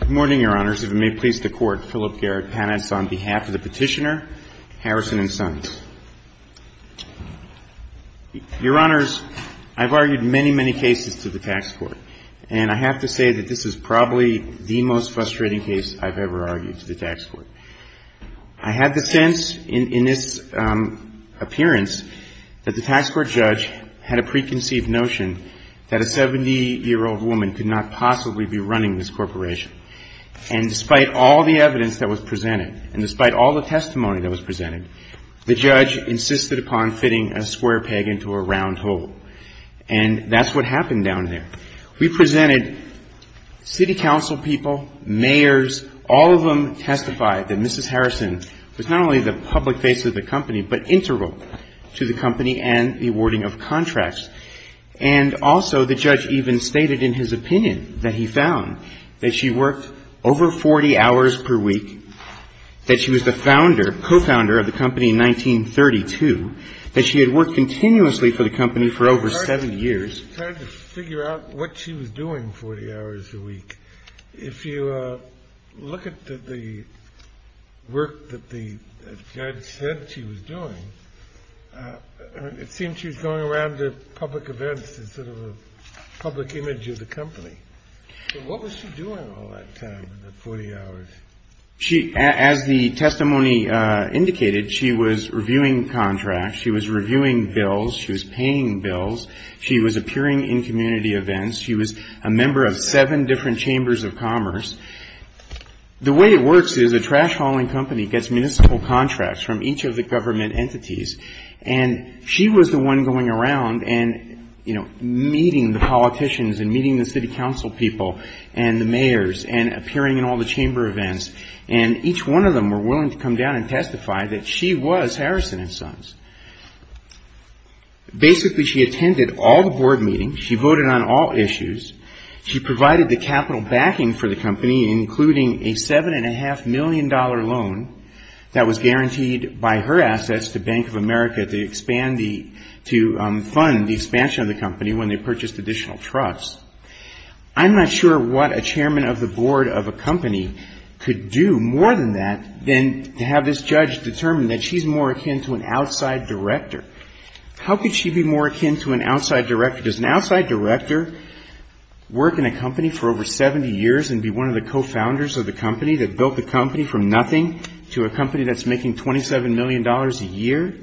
Good morning, Your Honors. If it may please the Court, Philip Garrett Panitz on behalf of the Petitioner, Harrison & Sons. Your Honors, I've argued many, many cases to the tax court, and I have to say that this is probably the most frustrating case I've ever argued to the tax court. I had the sense in this appearance that the tax court judge had a preconceived notion that a 70-year-old woman could not possibly be running this corporation. And despite all the evidence that was presented, and despite all the testimony that was presented, the judge insisted upon fitting a square peg into a round hole. And that's what happened down there. We presented city council people, mayors, all of them testified that Mrs. Harrison was not only the public face of the company, but integral to the company and the awarding of contracts. And also, the judge even stated in his opinion that he found that she worked over 40 hours per week, that she was the founder, co-founder of the company in 1932, that she had worked continuously for the company for over 70 years. It's hard to figure out what she was doing 40 hours a week. If you look at the work that the judge said she was doing, it seems she was going around to As the testimony indicated, she was reviewing contracts, she was reviewing bills, she was paying bills, she was appearing in community events, she was a member of seven different chambers of commerce. The way it works is a trash hauling company gets municipal contracts from each of the government entities, and she was the and each one of them were willing to come down and testify that she was Harrison and Sons. Basically, she attended all the board meetings, she voted on all issues, she provided the capital backing for the company, including a $7.5 million loan that was guaranteed by her assets to Bank of America to expand the company when they purchased additional trusts. I'm not sure what a chairman of the board of a company could do more than that than to have this judge determine that she's more akin to an outside director. How could she be more akin to an outside director? Does an outside director work in a company for over 70 years and be one of the co-founders of the company that built the company from nothing to a company that's making $27 million a year?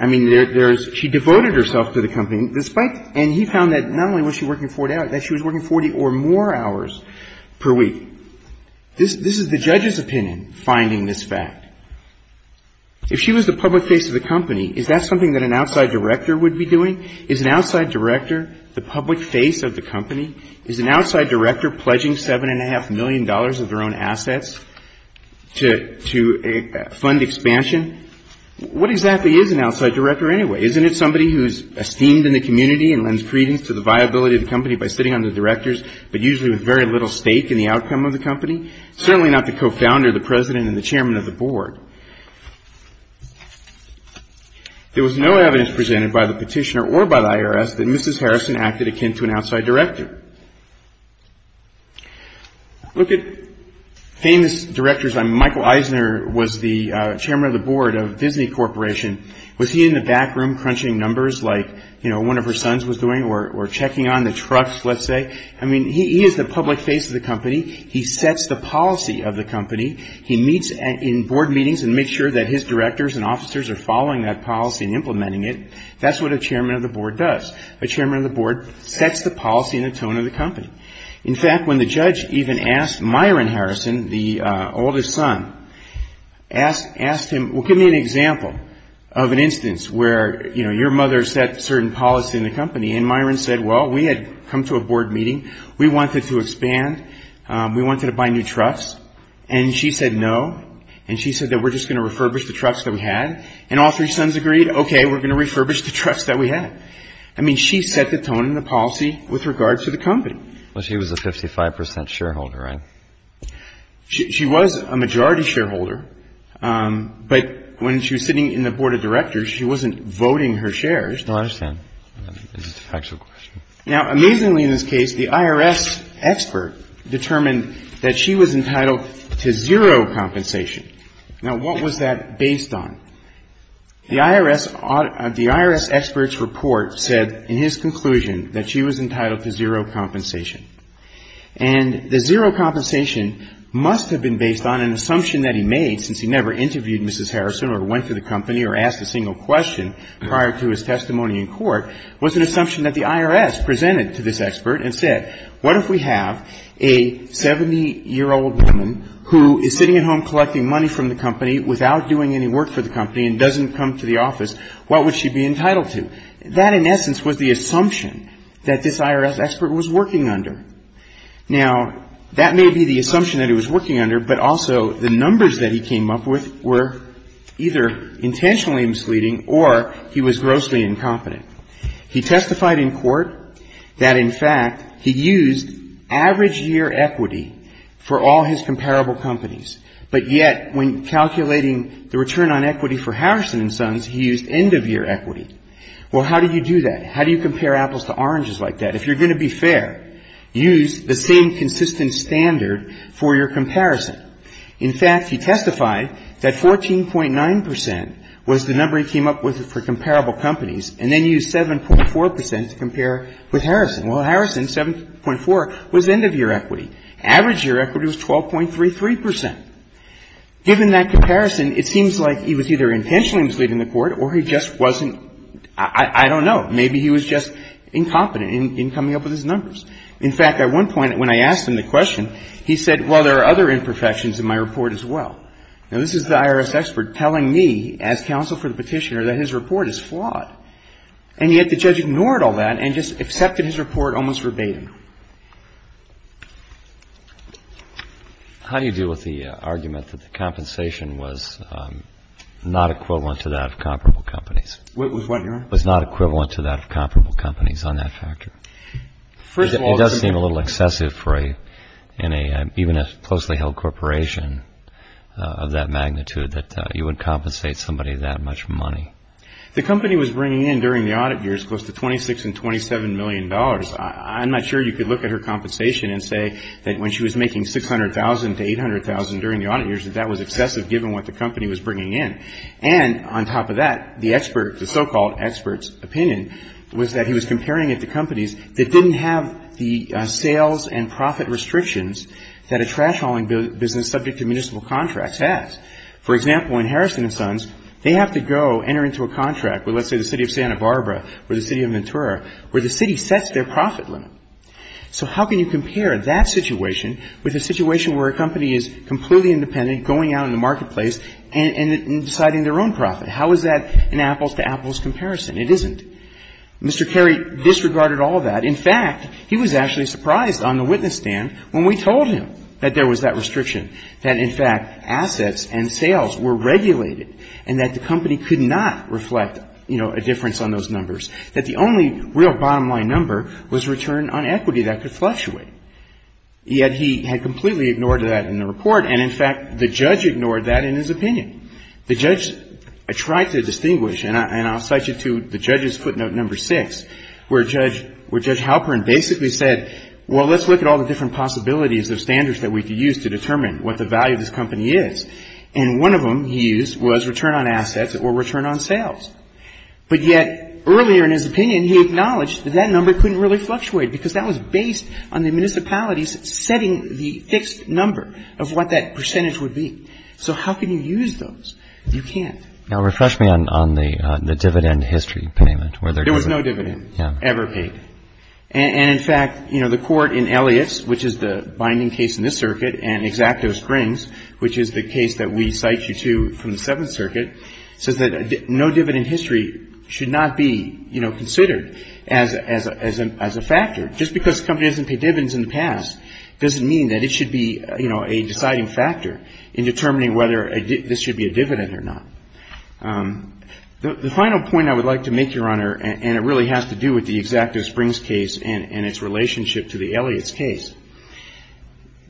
I mean, there's, she devoted herself to the company, despite, and he found that not only was she working 40 hours, that she was working 40 or more hours per week. This is the judge's opinion, finding this fact. If she was the public face of the company, is that something that an outside director would be doing? Is an outside director the public face of the company? Is an outside director pledging $7.5 million of their own assets to fund expansion? What exactly is an outside director anyway? Isn't it somebody who's esteemed in the community and lends credence to the viability of the company by sitting under directors, but usually with very little stake in the outcome of the company? Certainly not the co-founder, the president and the chairman of the board. There was no evidence presented by the petitioner or by the IRS that Mrs. Harrison acted akin to an outside director. Look at famous directors. Michael Eisner was the chairman of the board of Disney Corporation. Was he in the back room crunching numbers like one of her sons was doing or checking on the trucks, let's say? I mean, he is the public face of the company. He sets the policy of the company. He meets in board meetings and makes sure that his directors and officers are following that policy and implementing it. That's what a director does. He sets the policy and the tone of the company. In fact, when the judge even asked Myron Harrison, the oldest son, asked him, well, give me an example of an instance where, you know, your mother set certain policy in the company and Myron said, well, we had come to a board meeting. We wanted to expand. We wanted to buy new trucks. And she said no. And she said that we're just going to refurbish the trucks that we company. Well, she was a 55 percent shareholder, right? She was a majority shareholder. But when she was sitting in the board of directors, she wasn't voting her shares. No, I understand. It's a factual question. Now, amazingly in this case, the IRS expert determined that she was entitled to zero compensation. Now, what was that based on? The IRS expert's report said in his conclusion that she was entitled to zero compensation. And the zero compensation must have been based on an assumption that he made, since he never interviewed Mrs. Harrison or went to the company or asked a single question prior to his testimony in court, was an assumption that the IRS presented to this expert and said, what if we have a 70-year-old woman who is sitting at home collecting money from the company without doing any work for the company and doesn't come to the office, what would she be entitled to? That, in essence, was the assumption that this IRS expert was working under. Now, that may be the assumption that he was working under, but also the numbers that he came up with were either intentionally misleading or he was grossly incompetent. He testified in court that, in fact, he used average year equity for all his comparable companies, but yet when calculating the return on equity for Harrison and Sons, he used end-of-year equity. Well, how do you do that? How do you compare apples to oranges like that? If you're going to be fair, use the same consistent standard for your comparison. In fact, he testified that 14.9 percent was the number he came up with for comparable companies, and then used 7.4 percent to compare with Harrison. Well, Harrison, 7.4 was end-of-year equity. Average year equity was 12.33 percent. Given that comparison, it seems like he was either intentionally misleading the court or he just wasn't, I don't know, maybe he was just incompetent in coming up with his numbers. In fact, at one point when I asked him the question, he said, well, there are other imperfections in my report as well. Now, this is the IRS expert telling me, as counsel for the petitioner, that his report is flawed. And yet the judge ignored all that and just accepted his report almost verbatim. How do you deal with the argument that the compensation was not equivalent to that of comparable companies? With what, Your Honor? Was not equivalent to that of comparable companies on that factor. First of all, it does seem a little excessive for even a closely-held corporation of that magnitude that you would compensate somebody that much money. The company was bringing in during the audit years close to $26 and $27 million. I'm not sure you could look at her compensation and say that when she was making $600,000 a year, she was making $600,000 to $800,000 during the audit years, that that was excessive given what the company was bringing in. And on top of that, the expert, the so-called expert's opinion was that he was comparing it to companies that didn't have the sales and profit restrictions that a trash hauling business subject to municipal contracts has. For example, in Harrison & Sons, they have to go enter into a contract with, let's say, the city of Santa Barbara or the city of Ventura where the city sets their profit limit. So how can you compare that situation with a situation where a company is completely independent, going out in the marketplace and deciding their own profit? How is that an apples-to-apples comparison? It isn't. Mr. Carey disregarded all that. In fact, he was actually surprised on the witness stand when we told him that there was that restriction, that in fact assets and sales were regulated and that the company could not reflect, you know, a difference on those numbers, that the only real bottom-line number was return on equity that could fluctuate. Yet he had completely ignored that in the report. And in fact, the judge ignored that in his opinion. The judge tried to distinguish, and I'll cite you to the judge's footnote number six, where Judge Halpern basically said, well, let's look at all the different possibilities of standards that we could use to determine what the value of this company is. And one of them he used was return on assets or return on sales. But yet earlier in his opinion, he acknowledged that that number couldn't really fluctuate because that was based on the municipalities setting the fixed number of what that percentage would be. So how can you use those? You can't. Now, refresh me on the dividend history payment. There was no dividend ever paid. And in fact, you know, the court in Elliot's, which is the binding case in this circuit, and Exacto Springs, which is the case that we cite you to from the Seventh Circuit, says that no dividend history should not be, you know, considered as a factor, just because companies have a fixed number of dividends in the past doesn't mean that it should be, you know, a deciding factor in determining whether this should be a dividend or not. The final point I would like to make, Your Honor, and it really has to do with the Exacto Springs case and its relationship to the Elliot's case,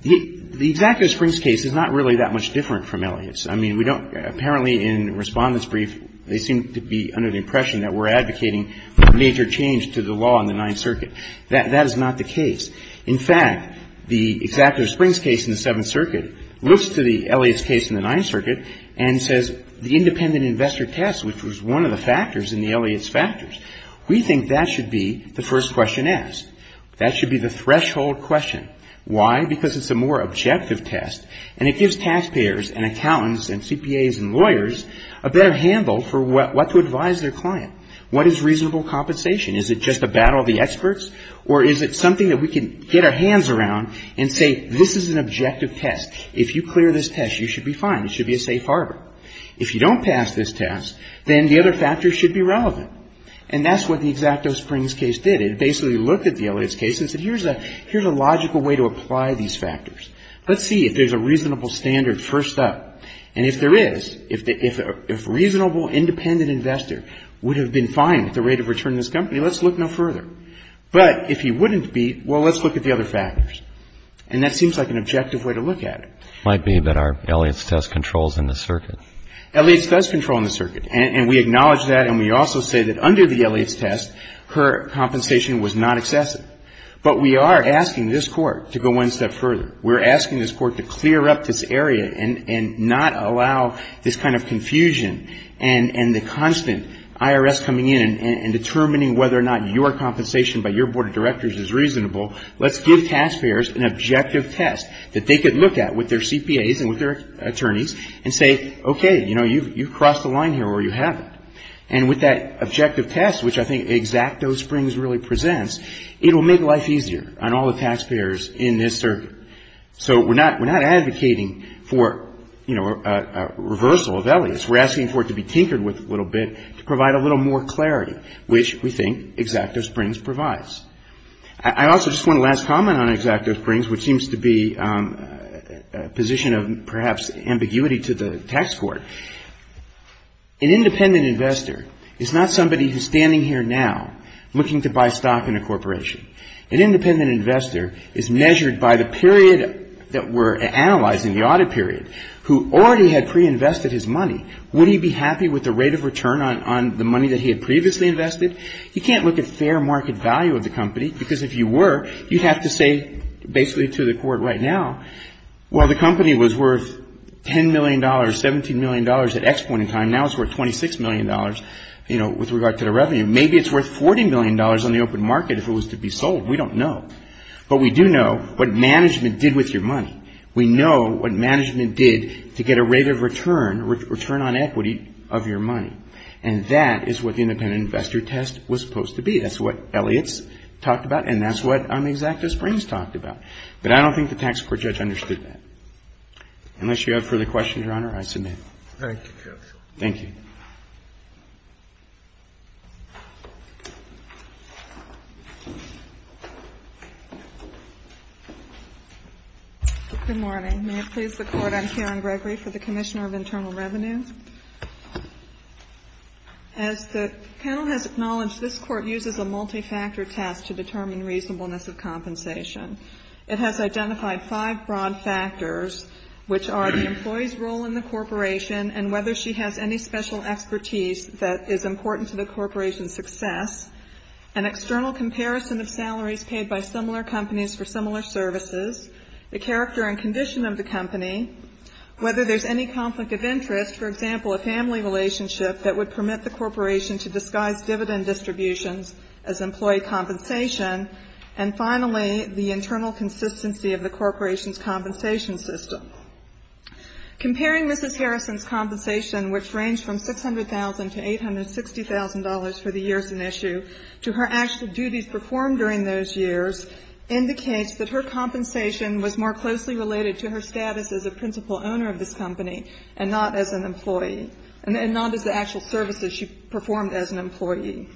the Exacto Springs case is not really that much different from Elliot's. I mean, we don't – apparently in Respondent's Brief, they seem to be under the impression that we're advocating a major change to the law in the Ninth Circuit. That is not the case. In fact, the Exacto Springs case in the Seventh Circuit looks to the Elliot's case in the Ninth Circuit and says the independent investor test, which was one of the factors in the Elliot's factors, we think that should be the first question asked. That should be the threshold question. Why? Because it's a more objective test and it gives taxpayers and accountants and CPAs and lawyers a better handle for what to advise their client. What is reasonable compensation? Is it just a battle of the experts or is it something that we can get our hands around and say, this is an objective test. If you clear this test, you should be fine. It should be a safe harbor. If you don't pass this test, then the other factors should be relevant. And that's what the Exacto Springs case did. It basically looked at the Elliot's case and said, here's a logical way to apply these factors. Let's see if there's a reasonable standard first up. And if there is, if a reasonable independent investor would have been fine with the rate of return of this company, let's look no less at the other factors. And that seems like an objective way to look at it. Might be that our Elliot's test controls in the circuit. Elliot's does control in the circuit. And we acknowledge that and we also say that under the Elliot's test, her compensation was not excessive. But we are asking this Court to go one step further. We're asking this Court to clear up this area and not allow this kind of confusion and the constant IRS coming in and determining whether or not your compensation by your board of directors is reasonable. Let's give taxpayers an objective test that they could look at with their CPAs and with their attorneys and say, okay, you know, you've crossed the line here or you haven't. And with that objective test, which I think Exacto Springs really presents, it will make life easier on all the taxpayers in this circuit. So we're not advocating for, you know, a reversal of Elliot's. We're asking for it to be tinkered with a little bit to provide a little more clarity, which we think Exacto Springs provides. I also just want to last comment on Exacto Springs, which seems to be a position of perhaps ambiguity to the tax court. An independent investor is not somebody who's standing here now looking to buy stock in a corporation. An independent investor is measured by the period that we're analyzing, the audit period, who already had pre-invested his money. Would he be happy with the rate of return on the money that he had previously invested? You can't look at fair market value of the company, because if you were, you'd have to say basically to the court right now, well, the company was worth $10 million, $17 million at X point in time. Now it's worth $26 million, you know, with regard to the revenue. Maybe it's worth $40 million on the open market if it was to be sold. We don't know. But we do know what management did with your money. We know what management did to get a rate of return, return on equity of your money. And that is what the independent investor test was supposed to be. That's what Elliott's talked about, and that's what Exacto Springs talked about. But I don't think the tax court judge understood that. Unless you have further questions, Your Honor, I submit. Thank you, counsel. Good morning. May it please the Court, I'm Karen Gregory for the Commissioner of Internal Revenue. As the panel has acknowledged, this Court uses a multi-factor test to determine reasonableness of compensation. It has identified five broad factors, which are the employee's role in the corporation and whether she has any special expertise that is important to the corporation's success, an external comparison of salaries paid by similar companies for similar services, the character and condition of the company, whether there's any conflict of interest, for example, a family relationship that would permit the corporation to disguise dividend distributions as employee compensation, and finally, the internal consistency of the corporation's compensation system. Comparing Mrs. Harrison's compensation, which ranged from $600,000 to $860,000 for the years in issue, to her actual duties performed during those years, indicates that her compensation was more closely related to her status as a principal owner of this company and not as an employee, and not as the actual services she performed as an employee.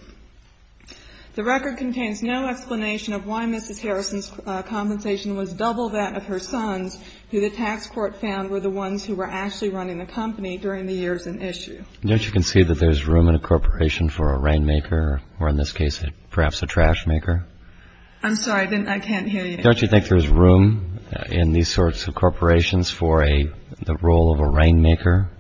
The record contains no explanation of why Mrs. Harrison's compensation was double that of her son's, who the tax court found were the ones who were actually running the company during the years in issue. Don't you concede that there's room in a corporation for a rainmaker, or in this case, perhaps a trashmaker? I'm sorry, I can't hear you. Don't you think there's room in these sorts of corporations for the role of a rainmaker?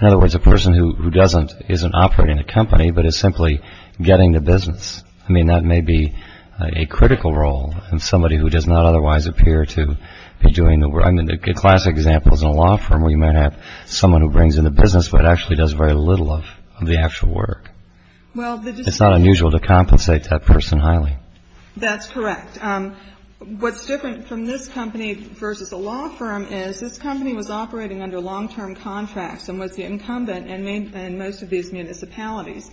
In other words, a person who doesn't, isn't operating the company, but is simply getting the business. I mean, that may be a critical role in somebody who does not otherwise appear to be doing the work. I mean, a classic example is in a law firm where you might have someone who brings in the business but actually does very little of the actual work. It's not unusual to compensate that person highly. That's correct. What's different from this company versus a law firm is this company was operating under long-term contracts and was the one who was actually running the business. and for the municipalities.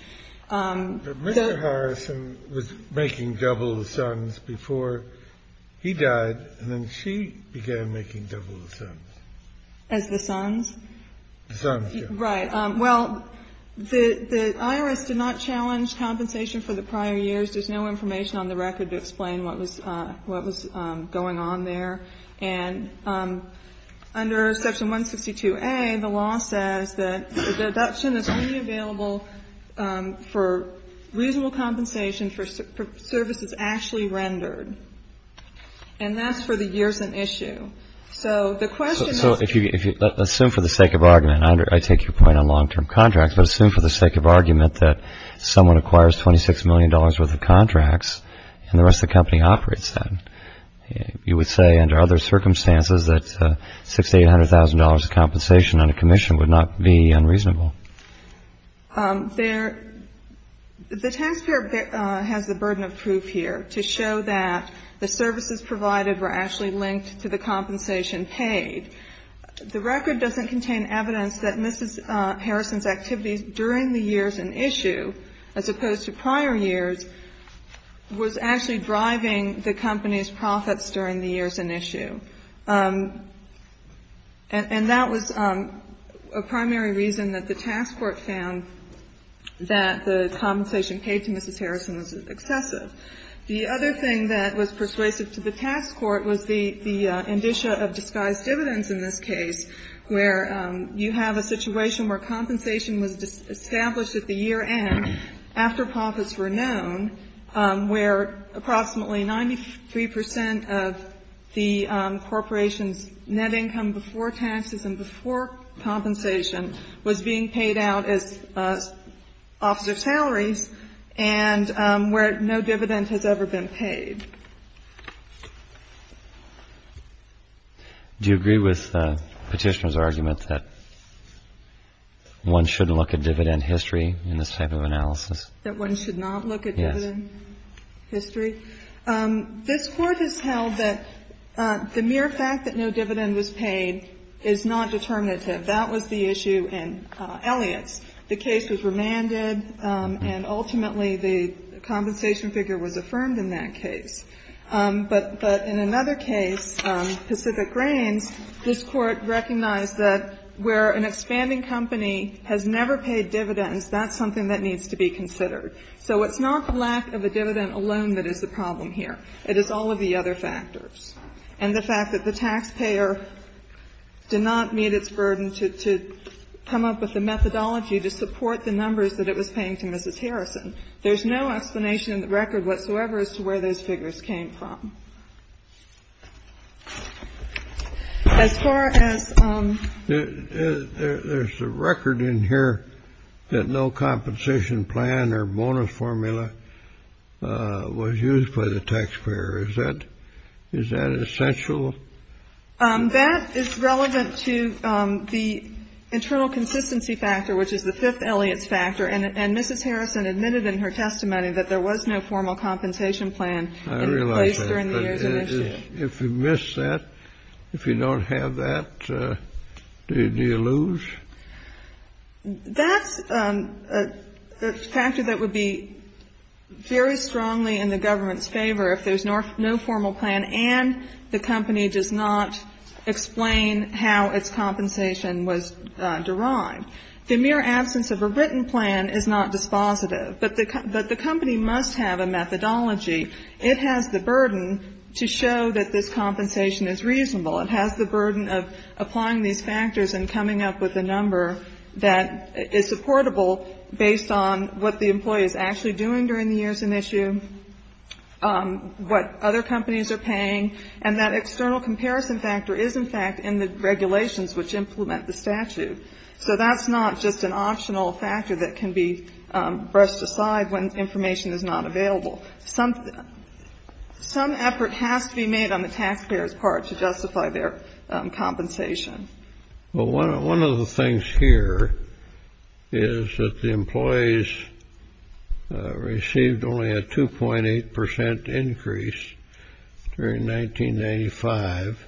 But Mr. Harrison was making double the sums before he died, and then she began making double the sums. As the sons? The sons, yes. Right. Well, the IRS did not challenge compensation for the prior years. There's no information on the record to explain what was going on there. And under Section 162A, the law says that the deduction is only available for reasonable compensation for services actually rendered. And that's for the years in issue. So the question is So assume for the sake of argument, I take your point on long-term contracts, but assume for the sake of argument that someone acquires $26 million worth of contracts and the rest of the company operates them. You would say under other circumstances that $600,000 to $800,000 of compensation on a commission would not be unreasonable. The taxpayer has the burden of proof here to show that the services provided were actually linked to the compensation paid. The record doesn't contain evidence that Mrs. Harrison's activities during the years in issue, as opposed to prior years, was actually driving the company's profits during the years in issue. And that was a primary reason that the task force found that the compensation paid to Mrs. Harrison was excessive. The other thing that was persuasive to the task force was the indicia of disguised dividends in this case, where you have a situation where compensation was established at the year end after profits were known, where approximately 93 percent of the corporation's net income before taxes and before compensation was being paid out as officer salaries, and where no dividend has ever been paid. Do you agree with Petitioner's argument that one shouldn't look at dividend history in this type of analysis? That one should not look at dividend history? Yes. This Court has held that the mere fact that no dividend was paid is not determinative. That was the issue in Elliott's. The case was remanded, and ultimately the compensation figure was affirmed in that case. But in another case, Pacific Grains, this Court recognized that where an expanding company has never paid dividends, that's something that needs to be considered. So it's not the lack of a dividend alone that is the problem here. It is all of the other factors. And the fact that the taxpayer did not meet its burden to come up with a methodology to support the numbers that it was paying to Mrs. Harrison, there's no explanation in the record whatsoever as to where those figures came from. As far as — There's a record in here that no compensation plan or bonus formula was used by the taxpayer. Is that essential? That is relevant to the internal consistency factor, which is the fifth Elliott's factor. And Mrs. Harrison admitted in her testimony that there was no formal compensation plan in place during the years in issue. I realize that. But if you miss that, if you don't have that, do you lose? That's a factor that would be very strongly in the government's favor if there's no formal plan and the company does not explain how its compensation was derived. The mere absence of a written plan is not dispositive. But the company must have a methodology. It has the burden to show that this compensation is reasonable. It has the burden of applying these factors and coming up with a number that is supportable based on what the employee is actually doing during the years in issue, what other companies are paying, and that external comparison factor is, in fact, in the regulations which implement the statute. So that's not just an optional factor that can be brushed aside when information is not available. Some effort has to be made on the taxpayers' part to justify their compensation. Well, one of the things here is that the employees received only a 2.8 percent increase during 1995,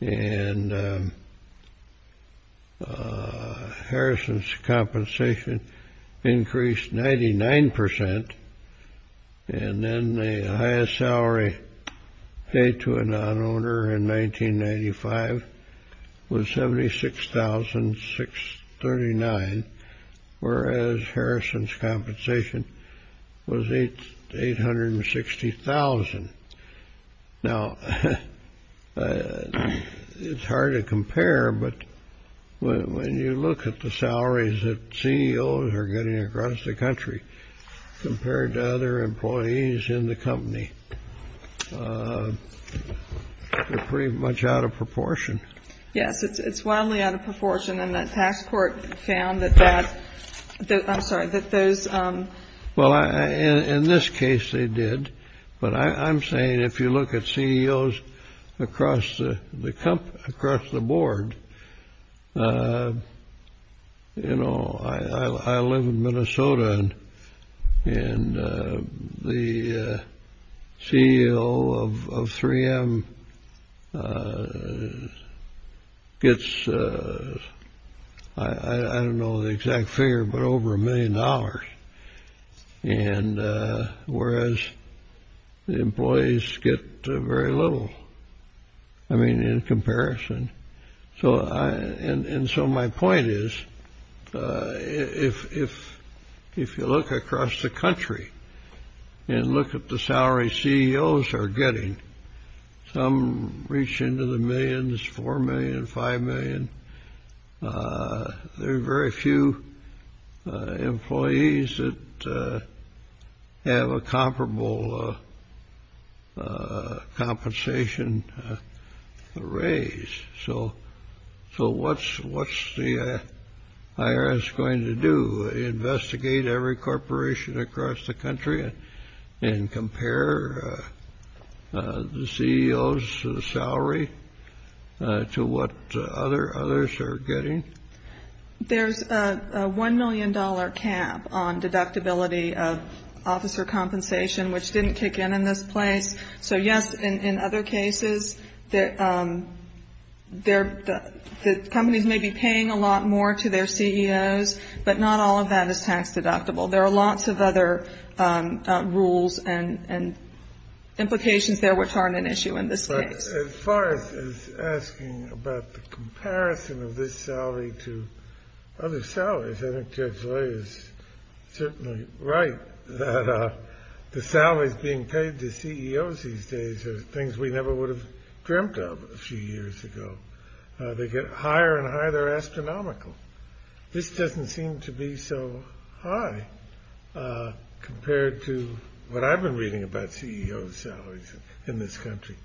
and Harrison's compensation increased 99 percent. And then the highest salary paid to a non-owner in 1995 was $76,639, whereas Harrison's compensation was $860,000. Now, it's hard to compare, but when you look at the salaries that CEOs are getting across the country compared to other employees in the company, they're pretty much out of proportion. Yes, it's wildly out of proportion. And the tax court found that that — I'm sorry, that those — Well, in this case, they did. But I'm saying if you look at CEOs across the board, you know, I live in Minnesota, and the CEO of 3M gets, I don't know the exact figure, but over a million dollars, and whereas the employees get very little, I mean, in comparison. And so my point is, if you look across the country and look at the salary CEOs are getting, some reach into the millions, $4 million, $5 million. There are very few employees that have a comparable compensation raise. So what's the IRS going to do? Investigate every corporation across the country and compare the CEOs' salary to what others are getting? There's a $1 million cap on deductibility of officer compensation, which didn't kick in in this place. So, yes, in other cases, companies may be paying a lot more to their CEOs, but not all of that is tax-deductible. There are lots of other rules and implications there which aren't an issue in this case. But as far as asking about the comparison of this salary to other salaries, I think Judge Leyer is certainly right that the salaries being paid to CEOs these days are things we never would have dreamt of a few years ago. They get higher and higher. They're astronomical. This doesn't seem to be so high compared to what I've been reading about CEOs' salaries in this country.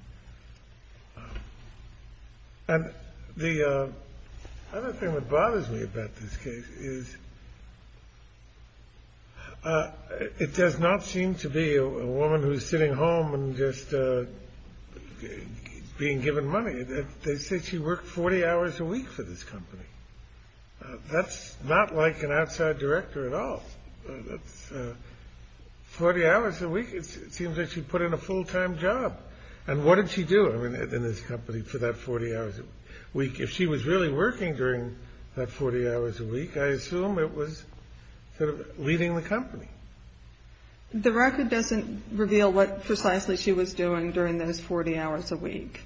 And the other thing that bothers me about this case is it does not seem to be a woman who's sitting home and just being given money. They say she worked 40 hours a week for this company. That's not like an outside director at all. That's 40 hours a week. It seems like she put in a full-time job. And what did she do in this company for that 40 hours a week? If she was really working during that 40 hours a week, I assume it was sort of leading the company. The record doesn't reveal what precisely she was doing during those 40 hours a week.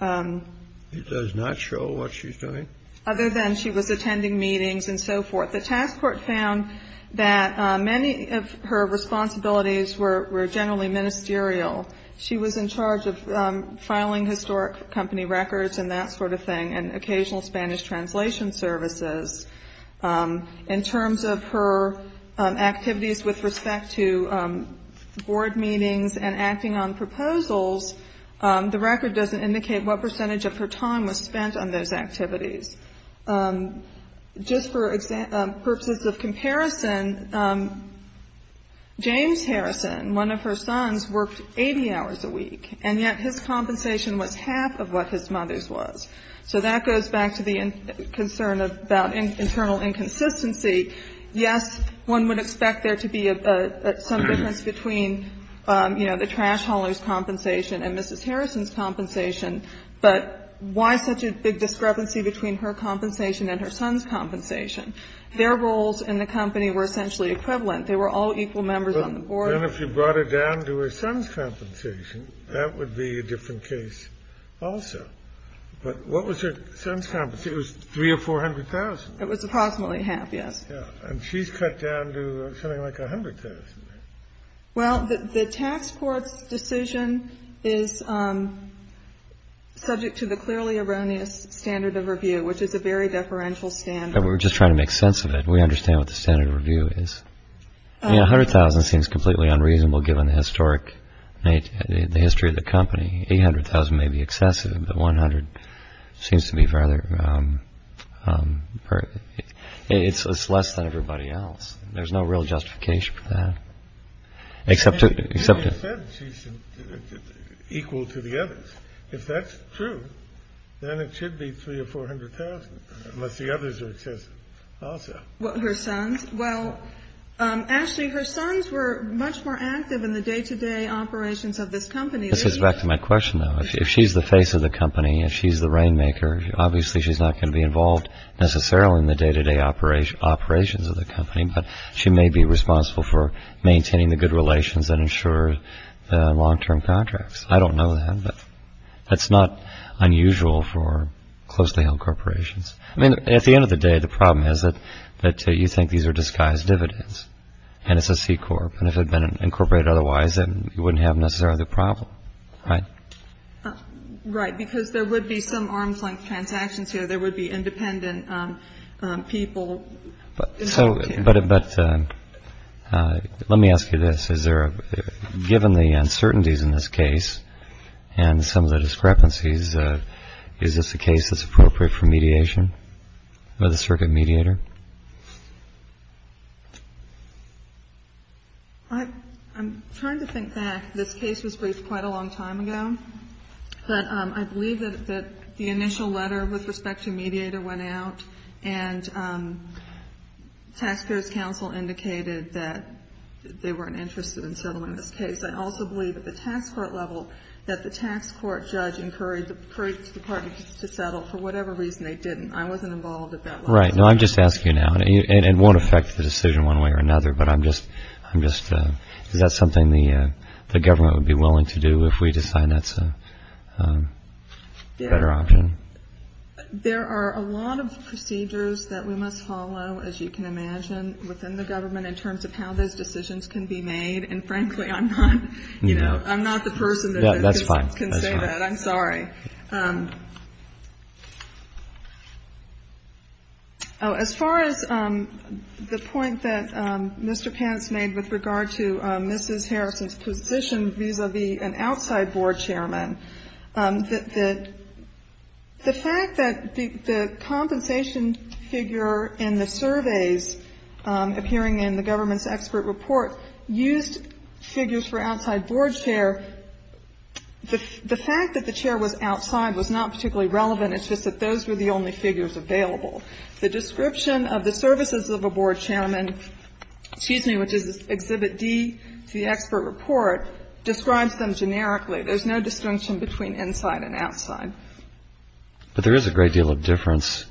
It does not show what she's doing? Other than she was attending meetings and so forth. The task force found that many of her responsibilities were generally ministerial. She was in charge of filing historic company records and that sort of thing and occasional Spanish translation services. In terms of her activities with respect to board meetings and acting on proposals, the record doesn't indicate what percentage of her time was spent on those activities. Just for purposes of comparison, James Harrison, one of her sons, worked 80 hours a week, and yet his compensation was half of what his mother's was. So that goes back to the concern about internal inconsistency. Yes, one would expect there to be some difference between, you know, the trash hauler's compensation and Mrs. Harrison's compensation, but why such a big discrepancy between her compensation and her son's compensation? Their roles in the company were essentially equivalent. They were all equal members on the board. Then if you brought it down to her son's compensation, that would be a different case also. But what was her son's compensation? It was $300,000 or $400,000. It was approximately half, yes. And she's cut down to something like $100,000. Well, the task force decision is subject to the clearly erroneous standard of review, which is a very deferential standard. We're just trying to make sense of it. We understand what the standard of review is. $100,000 seems completely unreasonable given the historic, the history of the company. $800,000 may be excessive, but $100,000 seems to be rather... It's less than everybody else. There's no real justification for that. Except to... She said she's equal to the others. If that's true, then it should be $300,000 or $400,000, unless the others are excessive also. Well, Ashley, her sons were much more active in the day-to-day operations of this company. This goes back to my question, though. If she's the face of the company, if she's the rainmaker, obviously she's not going to be involved necessarily in the day-to-day operations of the company, but she may be responsible for maintaining the good relations and ensure the long-term contracts. I don't know that, but that's not unusual for closely held corporations. I mean, at the end of the day, the problem is that you think these are disguised dividends, and it's a C-Corp, and if it had been incorporated otherwise, then you wouldn't have necessarily the problem, right? Right, because there would be some arm's-length transactions here. There would be independent people involved here. But let me ask you this. Given the uncertainties in this case and some of the discrepancies, is this a case that's appropriate for mediation by the circuit mediator? I'm trying to think back. This case was briefed quite a long time ago, but I believe that the initial letter with respect to mediator went out, and Taxpayers' Council indicated that they weren't interested in settling this case. I also believe at the tax court level that the tax court judge encouraged the department to settle. For whatever reason, they didn't. I wasn't involved at that level. Right. No, I'm just asking you now. It won't affect the decision one way or another, but I'm just – is that something the government would be willing to do if we decide that's a better option? There are a lot of procedures that we must follow, as you can imagine, within the government in terms of how those decisions can be made. And frankly, I'm not the person that can say that. That's fine. I'm sorry. As far as the point that Mr. Pance made with regard to Mrs. Harrison's position vis-à-vis an outside board chairman, the fact that the compensation figure in the surveys appearing in the government's expert report used figures for outside board chair, the fact that the chair was outside was not particularly relevant. It's just that those were the only figures available. The description of the services of a board chairman, which is Exhibit D to the expert report, describes them generically. There's no distinction between inside and outside. But there is a great deal of difference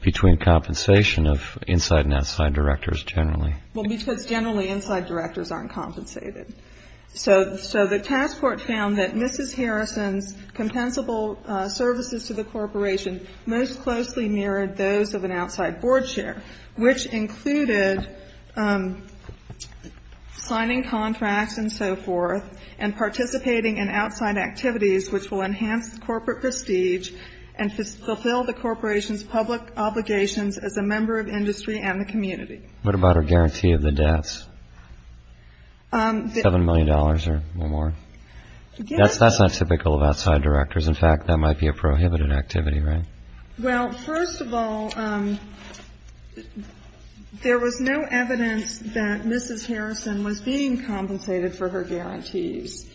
between compensation of inside and outside directors generally. Well, because generally inside directors aren't compensated. So the task force found that Mrs. Harrison's compensable services to the corporation most closely mirrored those of an outside board chair, which included signing contracts and so forth and participating in outside activities which will enhance corporate prestige and fulfill the corporation's public obligations as a member of industry and the community. What about a guarantee of the debts, $7 million or more? That's not typical of outside directors. In fact, that might be a prohibited activity, right? Well, first of all, there was no evidence that Mrs. Harrison was being compensated for her guarantees.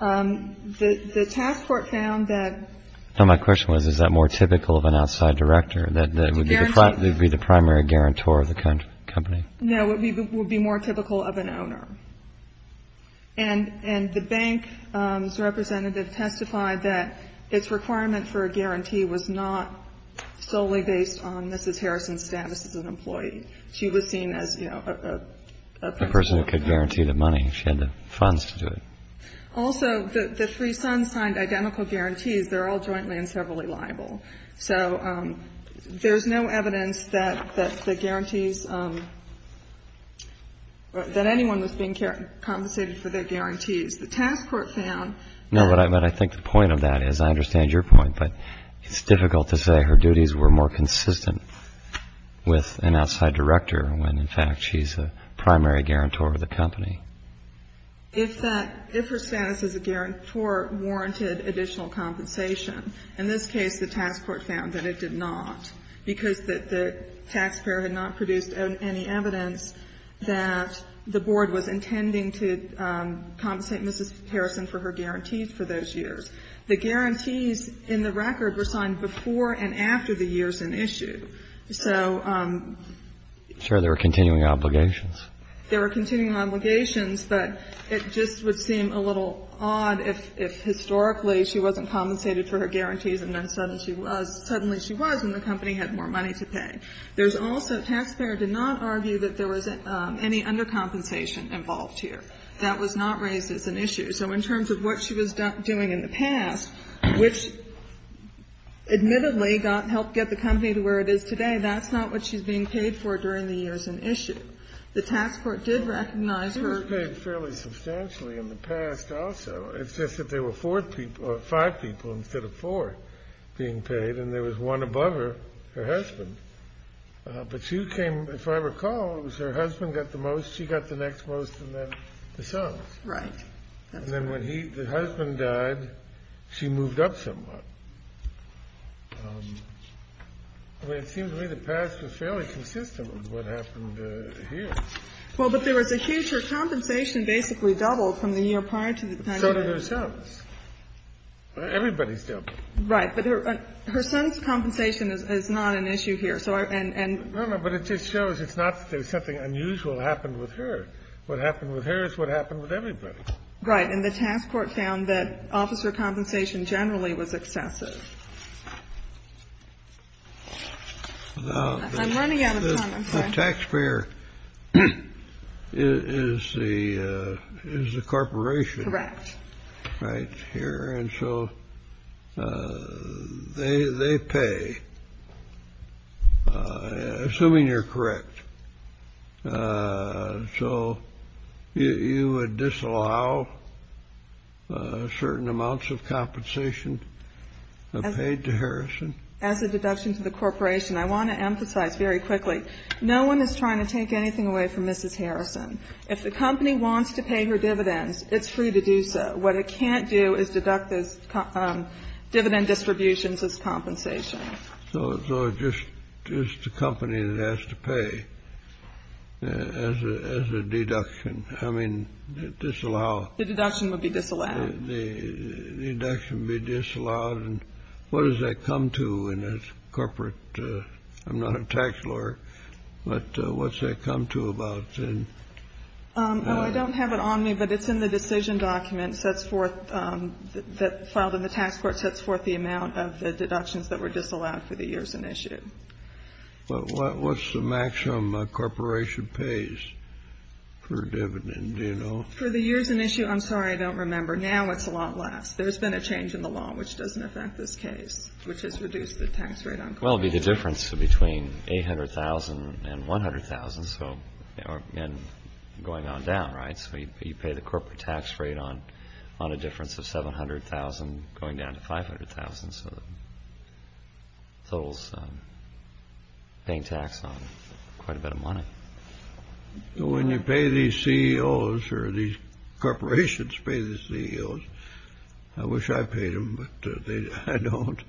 The task force found that. No, my question was, is that more typical of an outside director, that would be the primary guarantor of the company? No, it would be more typical of an owner. And the bank's representative testified that its requirement for a guarantee was not solely based on Mrs. Harrison's status as an employee. She was seen as, you know, a person who could guarantee the money. She had the funds to do it. Also, the three sons signed identical guarantees. They're all jointly and severally liable. So there's no evidence that the guarantees, that anyone was being compensated for their guarantees. The task force found. No, but I think the point of that is, I understand your point, but it's difficult to say her duties were more consistent with an outside director when, in fact, she's a primary guarantor of the company. If her status as a guarantor warranted additional compensation, in this case, the task force found that it did not, because the taxpayer had not produced any evidence that the board was intending to compensate Mrs. Harrison for her guarantees for those years. The guarantees in the record were signed before and after the years in issue. So. I'm sorry. There were continuing obligations. There were continuing obligations. But it just would seem a little odd if historically she wasn't compensated for her guarantees and then suddenly she was, and the company had more money to pay. There's also, taxpayer did not argue that there was any undercompensation involved here. That was not raised as an issue. So in terms of what she was doing in the past, which admittedly helped get the company to where it is today, that's not what she's being paid for during the years in issue. The task force did recognize her. She was paid fairly substantially in the past also. It's just that there were five people instead of four being paid, and there was one above her, her husband. But she came, if I recall, it was her husband got the most, she got the next most, and then the sons. Right. And then when the husband died, she moved up somewhat. I mean, it seems to me the past was fairly consistent with what happened here. Well, but there was a huge her compensation basically doubled from the year prior to the pandemic. So did her sons. Everybody's doubled. Right. But her sons' compensation is not an issue here. So and we're going to go. But it just shows it's not that there's something unusual happened with her. What happened with her is what happened with everybody. Right. And the task force found that officer compensation generally was excessive. I'm running out of time. The taxpayer is the corporation. Correct. Right here. And so they pay, assuming you're correct. So you would disallow certain amounts of compensation paid to Harrison? As a deduction to the corporation. I want to emphasize very quickly, no one is trying to take anything away from Mrs. Harrison. If the company wants to pay her dividends, it's free to do so. What it can't do is deduct those dividend distributions as compensation. So it's just the company that has to pay as a deduction. I mean, disallow. The deduction would be disallowed. The deduction would be disallowed. And what does that come to in a corporate? I'm not a tax lawyer, but what's that come to about? I don't have it on me, but it's in the decision document that's filed in the tax court, and that sets forth the amount of the deductions that were disallowed for the years in issue. But what's the maximum a corporation pays for a dividend? Do you know? For the years in issue, I'm sorry, I don't remember. Now it's a lot less. There's been a change in the law, which doesn't affect this case, which has reduced the tax rate on corporations. Well, it would be the difference between $800,000 and $100,000 and going on down, right? So you pay the corporate tax rate on a difference of $700,000 going down to $500,000. So the total's paying tax on quite a bit of money. When you pay these CEOs or these corporations pay the CEOs, I wish I paid them, but I don't.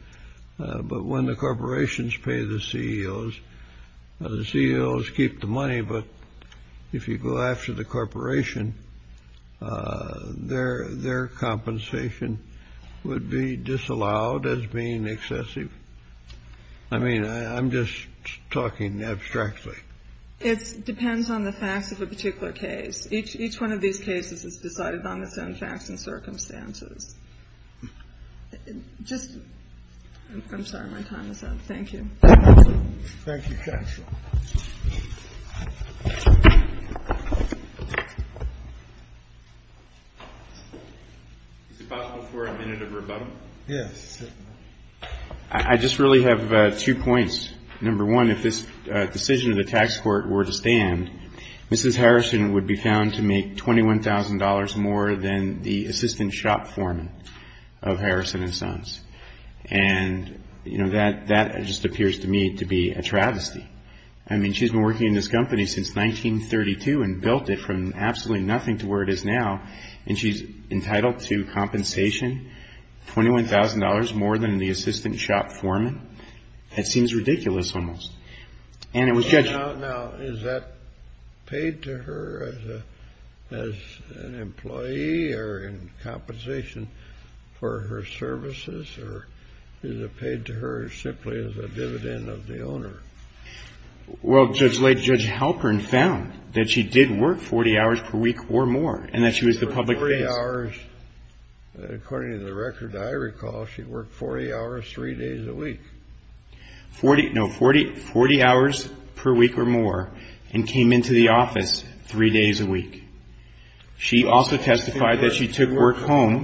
But when the corporations pay the CEOs, the CEOs keep the money, but if you go after the corporation, their compensation would be disallowed as being excessive. I mean, I'm just talking abstractly. It depends on the facts of a particular case. Each one of these cases is decided on its own facts and circumstances. Just, I'm sorry, my time is up. Thank you. Thank you, Counsel. Is it possible for a minute of rebuttal? Yes. I just really have two points. Mrs. Harrison would be found to make $21,000 more than the assistant shop foreman of Harrison & Sons. And, you know, that just appears to me to be a travesty. I mean, she's been working in this company since 1932 and built it from absolutely nothing to where it is now, and she's entitled to compensation, $21,000 more than the assistant shop foreman? That seems ridiculous almost. Now, is that paid to her as an employee or in compensation for her services, or is it paid to her simply as a dividend of the owner? Well, Judge Halpern found that she did work 40 hours per week or more, and that she was the public face. 40 hours. According to the record, I recall she worked 40 hours three days a week. No, 40 hours per week or more and came into the office three days a week. She also testified that she took work home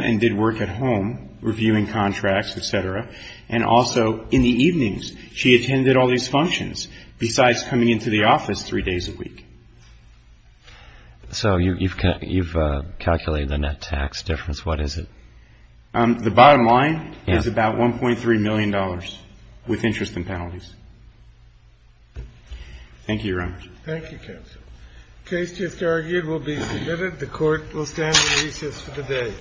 and did work at home, reviewing contracts, et cetera. And also in the evenings, she attended all these functions besides coming into the office three days a week. So you've calculated the net tax difference. What is it? The bottom line is about $1.3 million with interest and penalties. Thank you, Your Honor. Thank you, counsel. The case just argued will be submitted. The Court will stand at recess for the day.